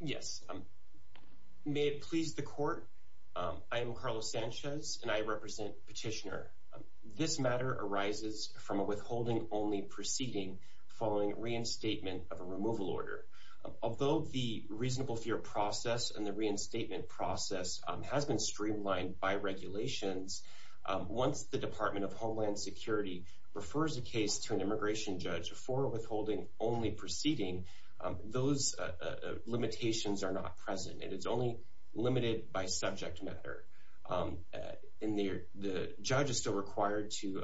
Yes, may it please the Court, I am Carlos Sanchez and I represent Petitioner. This matter arises from a withholding-only proceeding following reinstatement of a removal order. Although the reasonable fear process and the reinstatement process has been streamlined by regulations, once the Department of Homeland Security refers a case to an immigration judge for a withholding-only proceeding, those limitations are not present and it is only limited by subject matter. The judge is still required to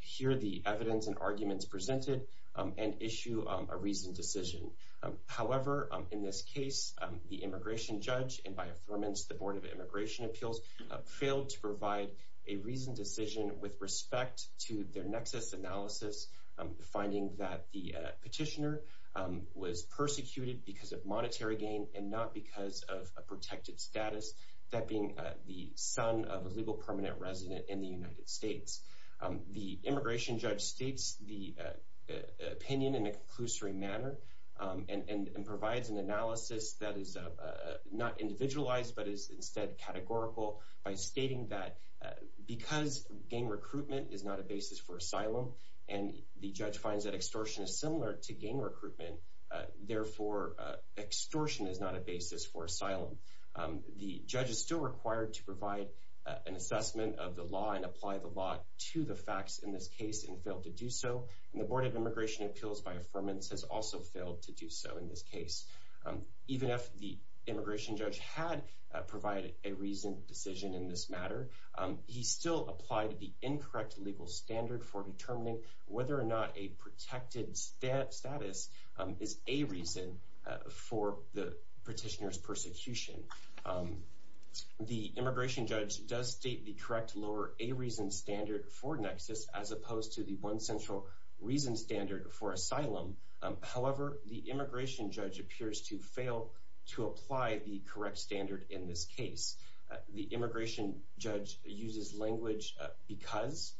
hear the evidence and arguments presented and issue a reasoned decision. However, in this case, the immigration judge and, by affirmance, the Board of Immigration Appeals failed to provide a reasoned decision with respect to their nexus analysis, finding that the petitioner was persecuted because of monetary gain and not because of a protected status, that being the son of a legal permanent resident in the United States. The immigration judge states the opinion in a conclusory manner and provides an analysis that is not individualized but is instead categorical by stating that because gang recruitment is not a basis for asylum and the judge finds that extortion is similar to gang recruitment, therefore extortion is not a basis for asylum. The judge is still required to provide an assessment of the law and apply the law to the facts in this case and failed to do so. The Board of Immigration Appeals, by affirmance, has also failed to do so in this case. Even if the immigration judge had provided a reasoned decision in this matter, he still applied the incorrect legal standard for determining whether or not a protected status is a reason for the petitioner's persecution. The immigration judge does state the correct lower a reason standard for nexus as opposed to the one central reason standard for asylum. However, the immigration judge appears to fail to apply the correct standard in this case. The immigration judge uses language because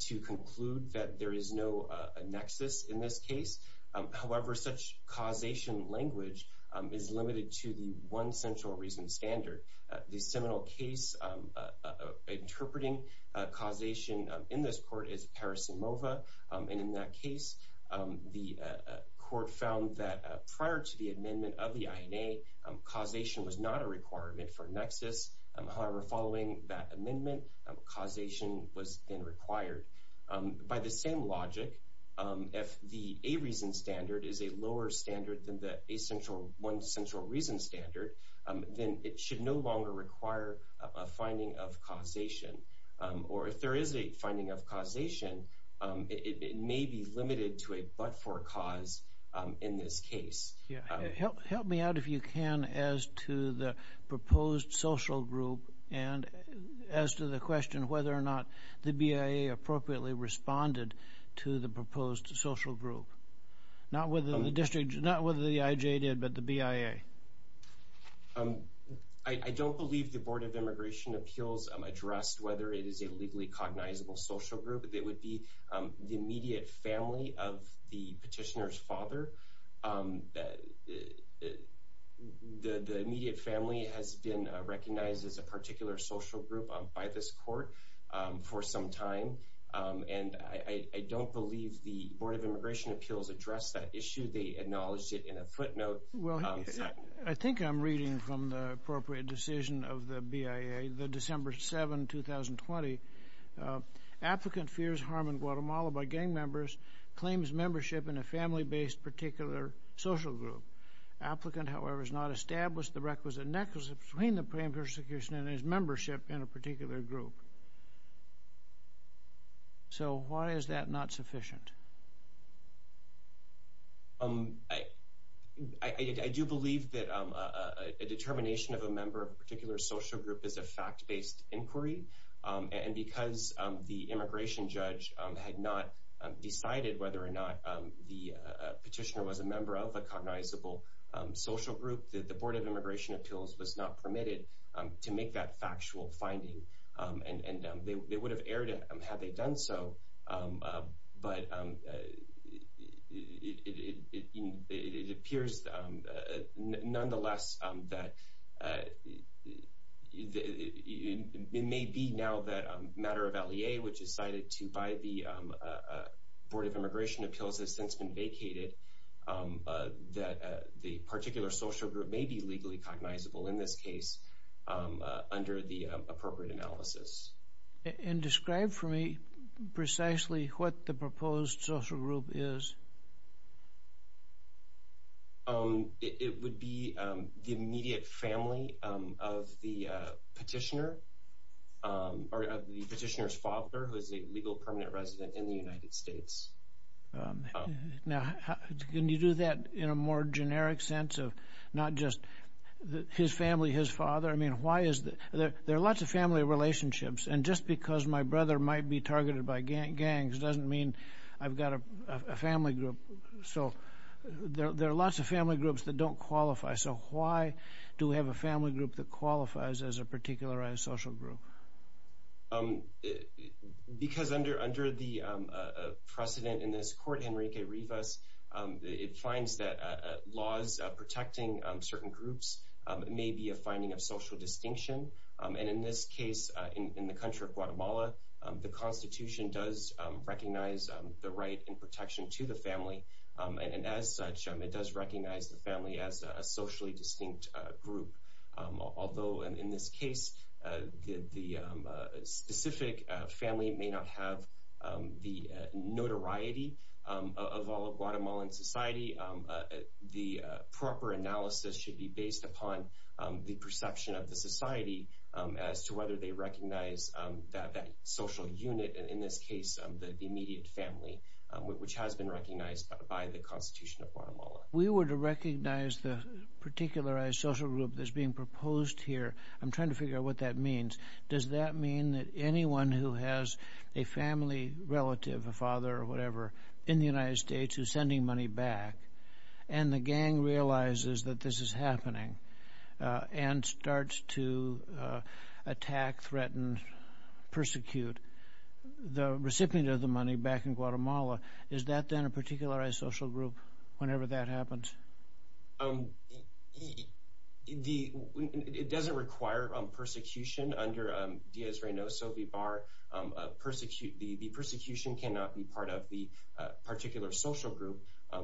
to conclude that there is no nexus in this case. However, such causation language is limited to the one central reason standard. The seminal case interpreting causation in this court is Paris and Mova and in that case, the court found that prior to the amendment of the INA, causation was not a requirement for nexus. However, following that amendment, causation was then required. By the same logic, if the a reason standard is a lower standard than the one central reason standard, then it should no longer require a finding of causation. Or if there is a finding of causation, it may be limited to a but-for cause in this case. Help me out if you can as to the proposed social group and as to the question whether or not the BIA appropriately responded to the proposed social group. Not whether the district, not whether the IJ did, but the BIA. I don't believe the Board of Immigration Appeals addressed whether it is a legally cognizable social group. It would be the immediate family of the petitioner's father. The immediate family has been recognized as a particular social group by this court for some time. And I don't believe the Board of Immigration Appeals addressed that issue. They acknowledged it in a footnote. I think I'm reading from the appropriate decision of the BIA, the December 7, 2020. Applicant fears harm in Guatemala by gang members, claims membership in a family-based particular social group. Applicant, however, has not established the requisite nexus between the pre-emptive persecution and his membership in a particular group. So why is that not sufficient? I do believe that a determination of a member of a particular social group is a fact-based inquiry. And because the immigration judge had not decided whether or not the petitioner was a member of a cognizable social group, the Board of Immigration Appeals was not permitted to make that factual finding. And they would have erred had they done so. But it appears, nonetheless, that it may be now that a matter of LEA, which is cited to by the Board of Immigration Appeals has since been vacated, that the particular social group may be legally cognizable in this case under the appropriate analysis. And describe for me precisely what the proposed social group is. It would be the immediate family of the petitioner, or of the petitioner's father, who is a legal permanent resident in the United States. Now, can you do that in a more generic sense of not just his family, his father? I mean, there are lots of family relationships. And just because my brother might be targeted by gangs doesn't mean I've got a family group. So there are lots of family groups that don't qualify. So why do we have a family group that qualifies as a particularized social group? Because under the precedent in this court, Henrique Rivas, it finds that laws protecting certain groups may be a finding of social distinction. And in this case, in the country of Guatemala, the Constitution does recognize the right in protection to the family. And as such, it does recognize the family as a socially distinct group. Although in this case, the specific family may not have the notoriety of all of Guatemalan society, the proper analysis should be based upon the perception of the society as to whether they recognize that social unit, and in this case, the immediate family, which has been recognized by the Constitution of Guatemala. We were to recognize the particularized social group that's being proposed here, I'm trying to figure out what that means. Does that mean that anyone who has a family relative, a father or whatever, in the United States, receives the money back, and the gang realizes that this is happening, and starts to attack, threaten, persecute the recipient of the money back in Guatemala, is that then a particularized social group whenever that happens? It doesn't require persecution under Díaz-Reynoso v. Barr. The persecution cannot be part of the particular social group.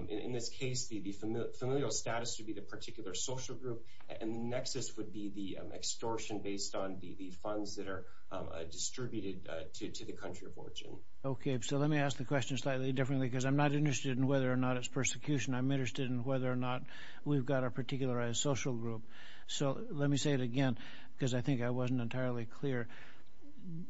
In this case, the familial status would be the particular social group, and the nexus would be the extortion based on the funds that are distributed to the country of origin. Okay, so let me ask the question slightly differently, because I'm not interested in whether or not it's persecution, I'm interested in whether or not we've got a particularized social group. So let me say it again, because I think I wasn't entirely clear,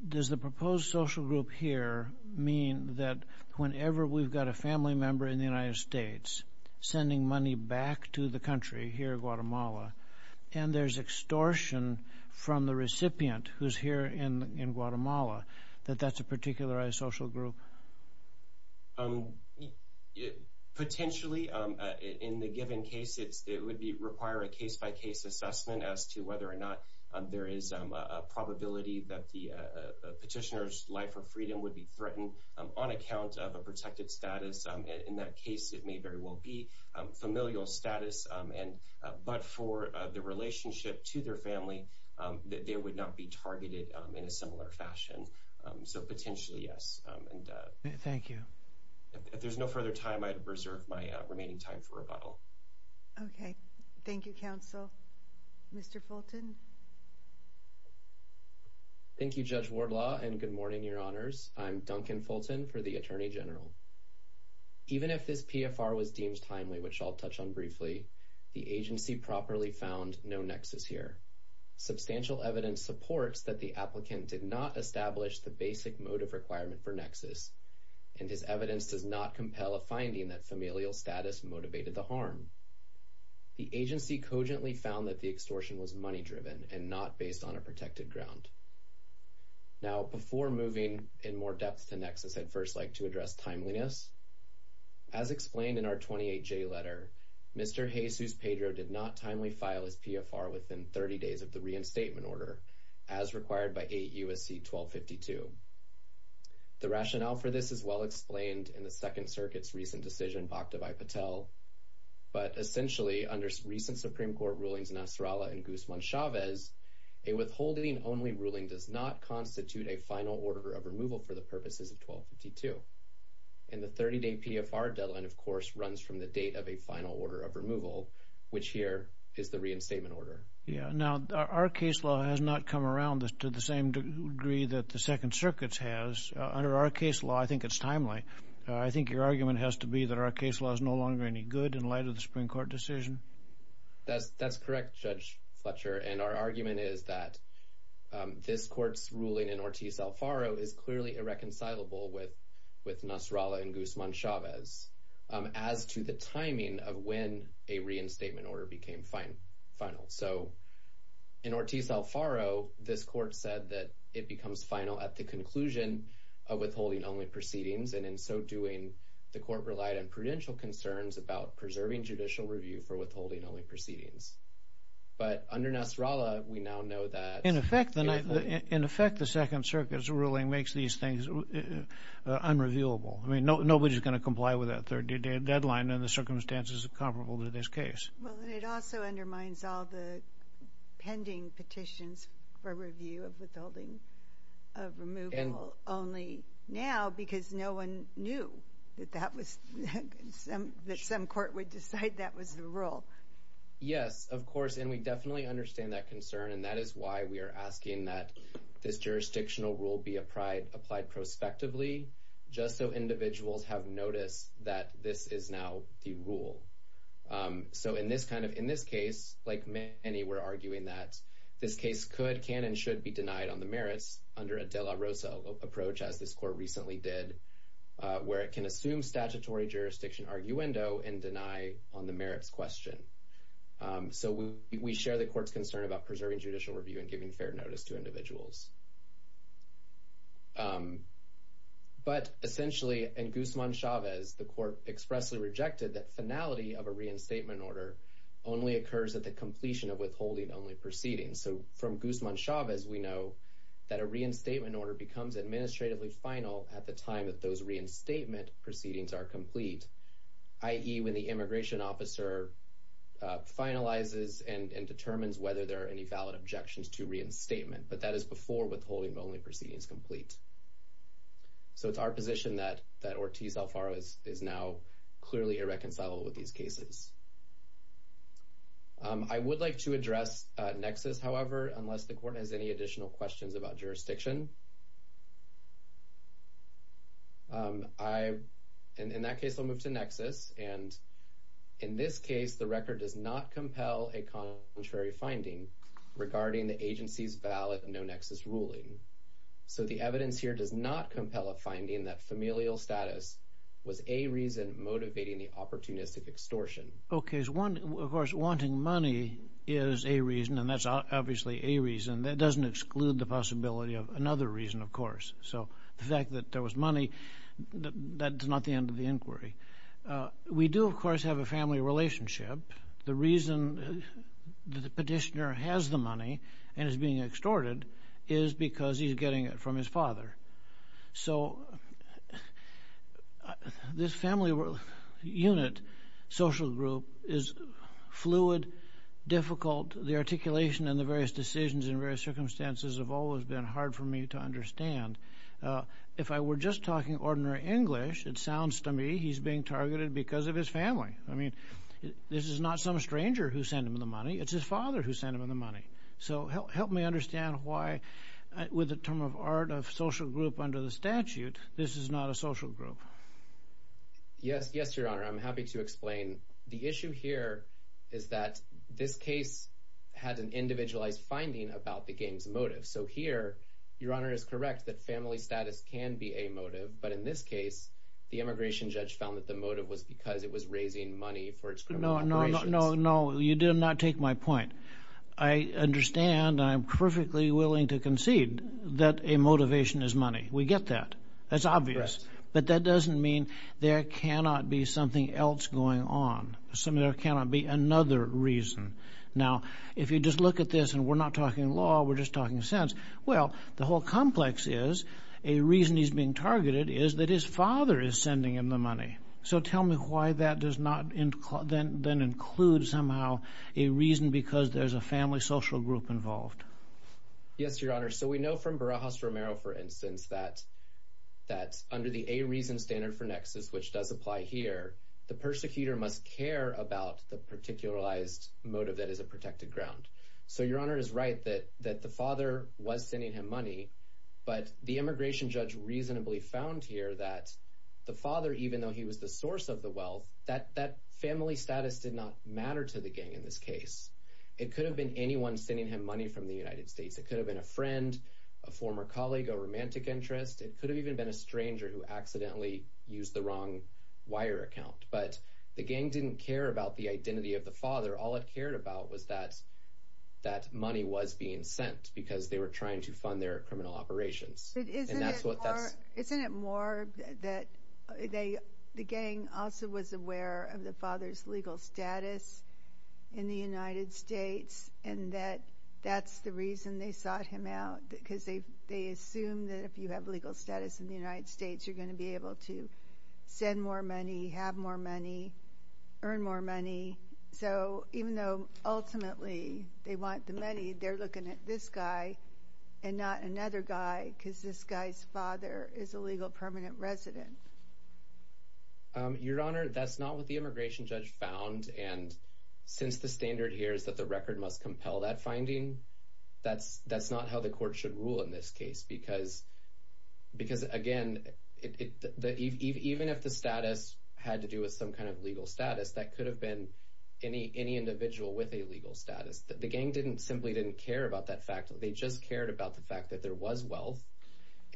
does the proposed social group here mean that whenever we've got a family member in the United States sending money back to the country here in Guatemala, and there's extortion from the recipient who's here in Guatemala, that that's a particularized social group? Potentially, in the given case, it would require a case-by-case assessment as to whether or not there is a probability that the petitioner's life or freedom would be threatened on account of a protected status. In that case, it may very well be familial status, but for the relationship to their family, they would not be targeted in a similar fashion. So potentially, yes. Thank you. If there's no further time, I'd reserve my remaining time for rebuttal. Okay. Thank you, counsel. Mr. Fulton? Thank you, Judge Wardlaw, and good morning, Your Honors. I'm Duncan Fulton for the Attorney General. Even if this PFR was deemed timely, which I'll touch on briefly, the agency properly found no nexus here. Substantial evidence supports that the applicant did not establish the basic motive requirement for nexus, and his evidence does not compel a finding that familial status motivated the harm. The agency cogently found that the extortion was money-driven and not based on a protected ground. Now, before moving in more depth to nexus, I'd first like to address timeliness. Timeliness? As explained in our 28-J letter, Mr. Jesus Pedro did not timely file his PFR within 30 days of the reinstatement order, as required by 8 U.S.C. 1252. The rationale for this is well explained in the Second Circuit's recent decision, Bakhtavai Patel. But essentially, under recent Supreme Court rulings Nasrallah and Guzman Chavez, a withholding-only ruling does not constitute a final order of removal for the purposes of 1252. And the 30-day PFR deadline, of course, runs from the date of a final order of removal, which here is the reinstatement order. Yeah. Now, our case law has not come around to the same degree that the Second Circuit's has. Under our case law, I think it's timely. I think your argument has to be that our case law is no longer any good in light of the Supreme Court decision. That's correct, Judge Fletcher. And our argument is that this Court's ruling in Ortiz-Alfaro is clearly irreconcilable with Nasrallah and Guzman Chavez, as to the timing of when a reinstatement order became final. So in Ortiz-Alfaro, this Court said that it becomes final at the conclusion of withholding-only proceedings, and in so doing, the Court relied on prudential concerns about preserving judicial review for withholding-only proceedings. But under Nasrallah, we now know that... In effect, the Second Circuit's ruling makes these things unreviewable. I mean, nobody's going to comply with that 30-day deadline in the circumstances comparable to this case. Well, and it also undermines all the pending petitions for review of withholding of removal only now, because no one knew that some court would decide that was the rule. Yes, of course, and we definitely understand that concern, and that is why we are asking that this jurisdictional rule be applied prospectively, just so individuals have noticed that this is now the rule. So in this case, like many were arguing that, this case could, can, and should be denied on the merits under a de la Rosa approach, as this Court recently did, where it can assume statutory jurisdiction arguendo and deny on the merits question. So we share the Court's concern about preserving judicial review and giving fair notice to individuals. But essentially, in Guzman-Chavez, the Court expressly rejected that finality of a reinstatement order only occurs at the completion of withholding-only proceedings. So from Guzman-Chavez, we know that a reinstatement order becomes administratively final at the proceedings are complete, i.e., when the immigration officer finalizes and determines whether there are any valid objections to reinstatement, but that is before withholding-only proceedings complete. So it's our position that Ortiz-Alfaro is now clearly irreconcilable with these cases. I would like to address Nexus, however, unless the Court has any additional questions about In that case, I'll move to Nexus. And in this case, the record does not compel a contrary finding regarding the agency's valid no-Nexus ruling. So the evidence here does not compel a finding that familial status was a reason motivating the opportunistic extortion. Okay. Of course, wanting money is a reason, and that's obviously a reason. That doesn't exclude the possibility of another reason, of course. So the fact that there was money, that's not the end of the inquiry. We do, of course, have a family relationship. The reason that the petitioner has the money and is being extorted is because he's getting it from his father. So this family unit, social group, is fluid, difficult. The articulation and the various decisions in various circumstances have always been hard for me to understand. If I were just talking ordinary English, it sounds to me he's being targeted because of his family. I mean, this is not some stranger who sent him the money. It's his father who sent him the money. So help me understand why, with the term of art of social group under the statute, this is not a social group. Yes, Your Honor. I'm happy to explain. The issue here is that this case had an individualized finding about the game's motive. So here, Your Honor is correct that family status can be a motive. But in this case, the immigration judge found that the motive was because it was raising money for its criminal operations. No, you did not take my point. I understand and I'm perfectly willing to concede that a motivation is money. We get that. That's obvious. But that doesn't mean there cannot be something else going on. There cannot be another reason. Now, if you just look at this and we're not talking law, we're just talking sense. Well, the whole complex is a reason he's being targeted is that his father is sending him the money. So tell me why that does not then include somehow a reason because there's a family social group involved. Yes, Your Honor. So we know from Barajas-Romero, for instance, that under the A reason standard for nexus, which does apply here, the persecutor must care about the particularized motive that is a protected ground. So Your Honor is right that the father was sending him money, but the immigration judge reasonably found here that the father, even though he was the source of the wealth, that family status did not matter to the gang in this case. It could have been anyone sending him money from the United States. It could have been a friend, a former colleague, a romantic interest. It could have even been a stranger who accidentally used the wrong wire account. But the gang didn't care about the identity of the father. All it cared about was that money was being sent because they were trying to fund their criminal operations. Isn't it more that the gang also was aware of the father's legal status in the United States and that that's the reason they sought him out? Because they assume that if you have legal status in the United States, you're going to be able to send more money, have more money, earn more money. So even though ultimately they want the money, they're looking at this guy and not another guy, because this guy's father is a legal permanent resident. Your Honor, that's not what the immigration judge found. And since the standard here is that the record must compel that finding, that's not how the court should rule in this case. Because again, even if the status had to do with some kind of legal status, that could have been any individual with a legal status. The gang simply didn't care about that fact. They just cared about the fact that there was wealth.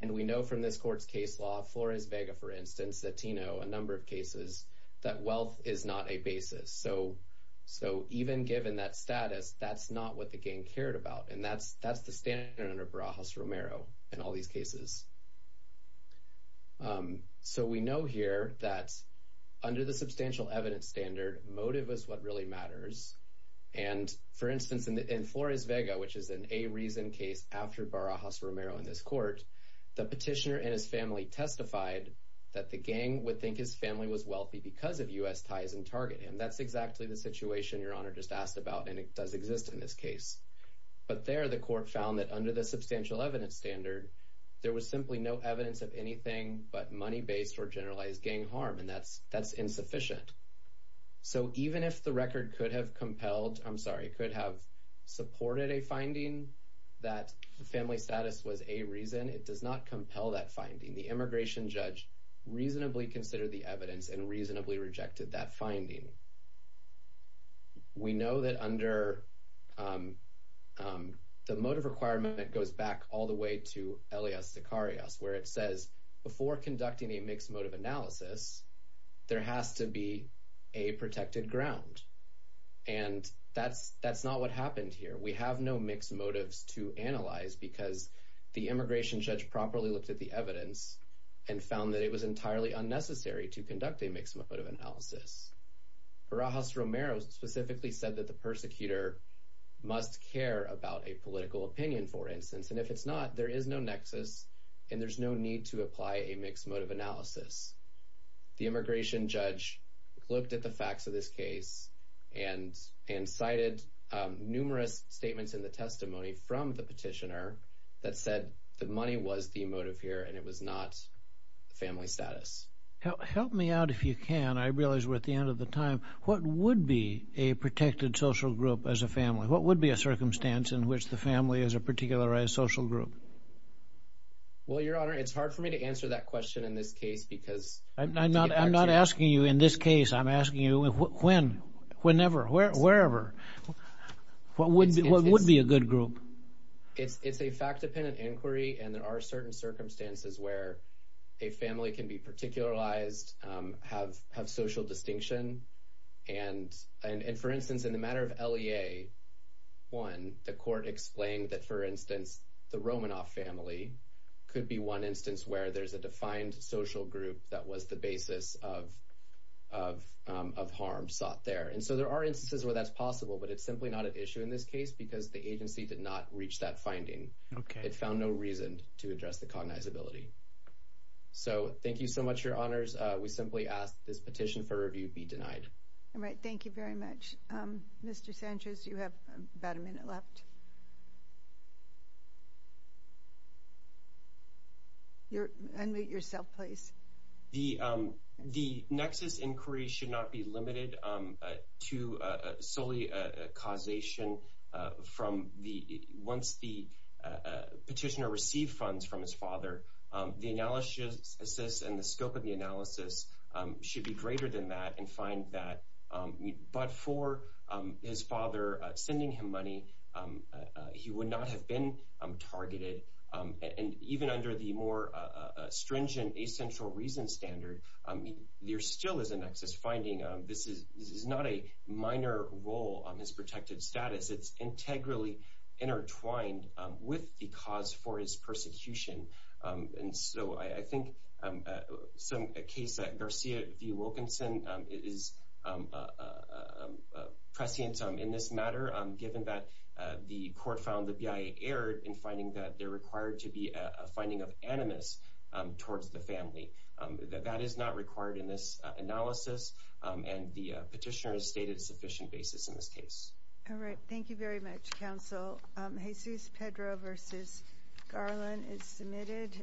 And we know from this court's case law, Flores-Vega, for instance, Latino, a number of cases, that wealth is not a basis. So even given that status, that's not what the gang cared about. And that's the standard under Barajas-Romero in all these cases. So we know here that under the substantial evidence standard, motive is what really matters. And for instance, in Flores-Vega, which is an a-reason case after Barajas-Romero in this court, the petitioner and his family testified that the gang would think his family was wealthy because of U.S. ties and targeted him. That's exactly the situation Your Honor just asked about, and it does exist in this case. But there, the court found that under the substantial evidence standard, there was simply no evidence of anything but money-based or generalized gang harm. And that's insufficient. So even if the record could have compelled, I'm sorry, could have supported a finding that the family status was a-reason, it does not compel that finding. The immigration judge reasonably considered the evidence and reasonably rejected that finding. We know that under, the motive requirement goes back all the way to Elias Dikarius, where it says, before conducting a mixed motive analysis, there has to be a protected ground. And that's not what happened here. We have no mixed motives to analyze because the immigration judge properly looked at the Barajas-Romero specifically said that the persecutor must care about a political opinion, for instance. And if it's not, there is no nexus and there's no need to apply a mixed motive analysis. The immigration judge looked at the facts of this case and cited numerous statements in the testimony from the petitioner that said that money was the motive here and it was not the family status. Help me out if you can. I realize we're at the end of the time. What would be a protected social group as a family? What would be a circumstance in which the family is a particularized social group? Well, Your Honor, it's hard for me to answer that question in this case because- I'm not asking you in this case. I'm asking you when, whenever, wherever. What would be a good group? It's a fact-dependent inquiry and there are certain circumstances where a family can be particularized, have social distinction. And, for instance, in the matter of LEA 1, the court explained that, for instance, the Romanoff family could be one instance where there's a defined social group that was the basis of harm sought there. And so there are instances where that's possible, but it's simply not an issue in this case because the agency did not reach that finding. It found no reason to address the cognizability. So, thank you so much, Your Honors. We simply ask this petition for review be denied. All right, thank you very much. Mr. Sanchez, you have about a minute left. Unmute yourself, please. The Nexus inquiry should not be limited to solely a causation from the- The analysis and the scope of the analysis should be greater than that and find that but for his father sending him money, he would not have been targeted. And even under the more stringent essential reason standard, there still is a Nexus finding. This is not a minor role on his protected status. It's integrally intertwined with the cause for his persecution. And so I think a case that Garcia v. Wilkinson is prescient in this matter, given that the court found the BIA error in finding that they're required to be a finding of animus towards the family. That is not required in this analysis, and the petitioner has stated a sufficient basis in this case. All right, thank you very much, counsel. Jesus Pedro v. Garland is submitted.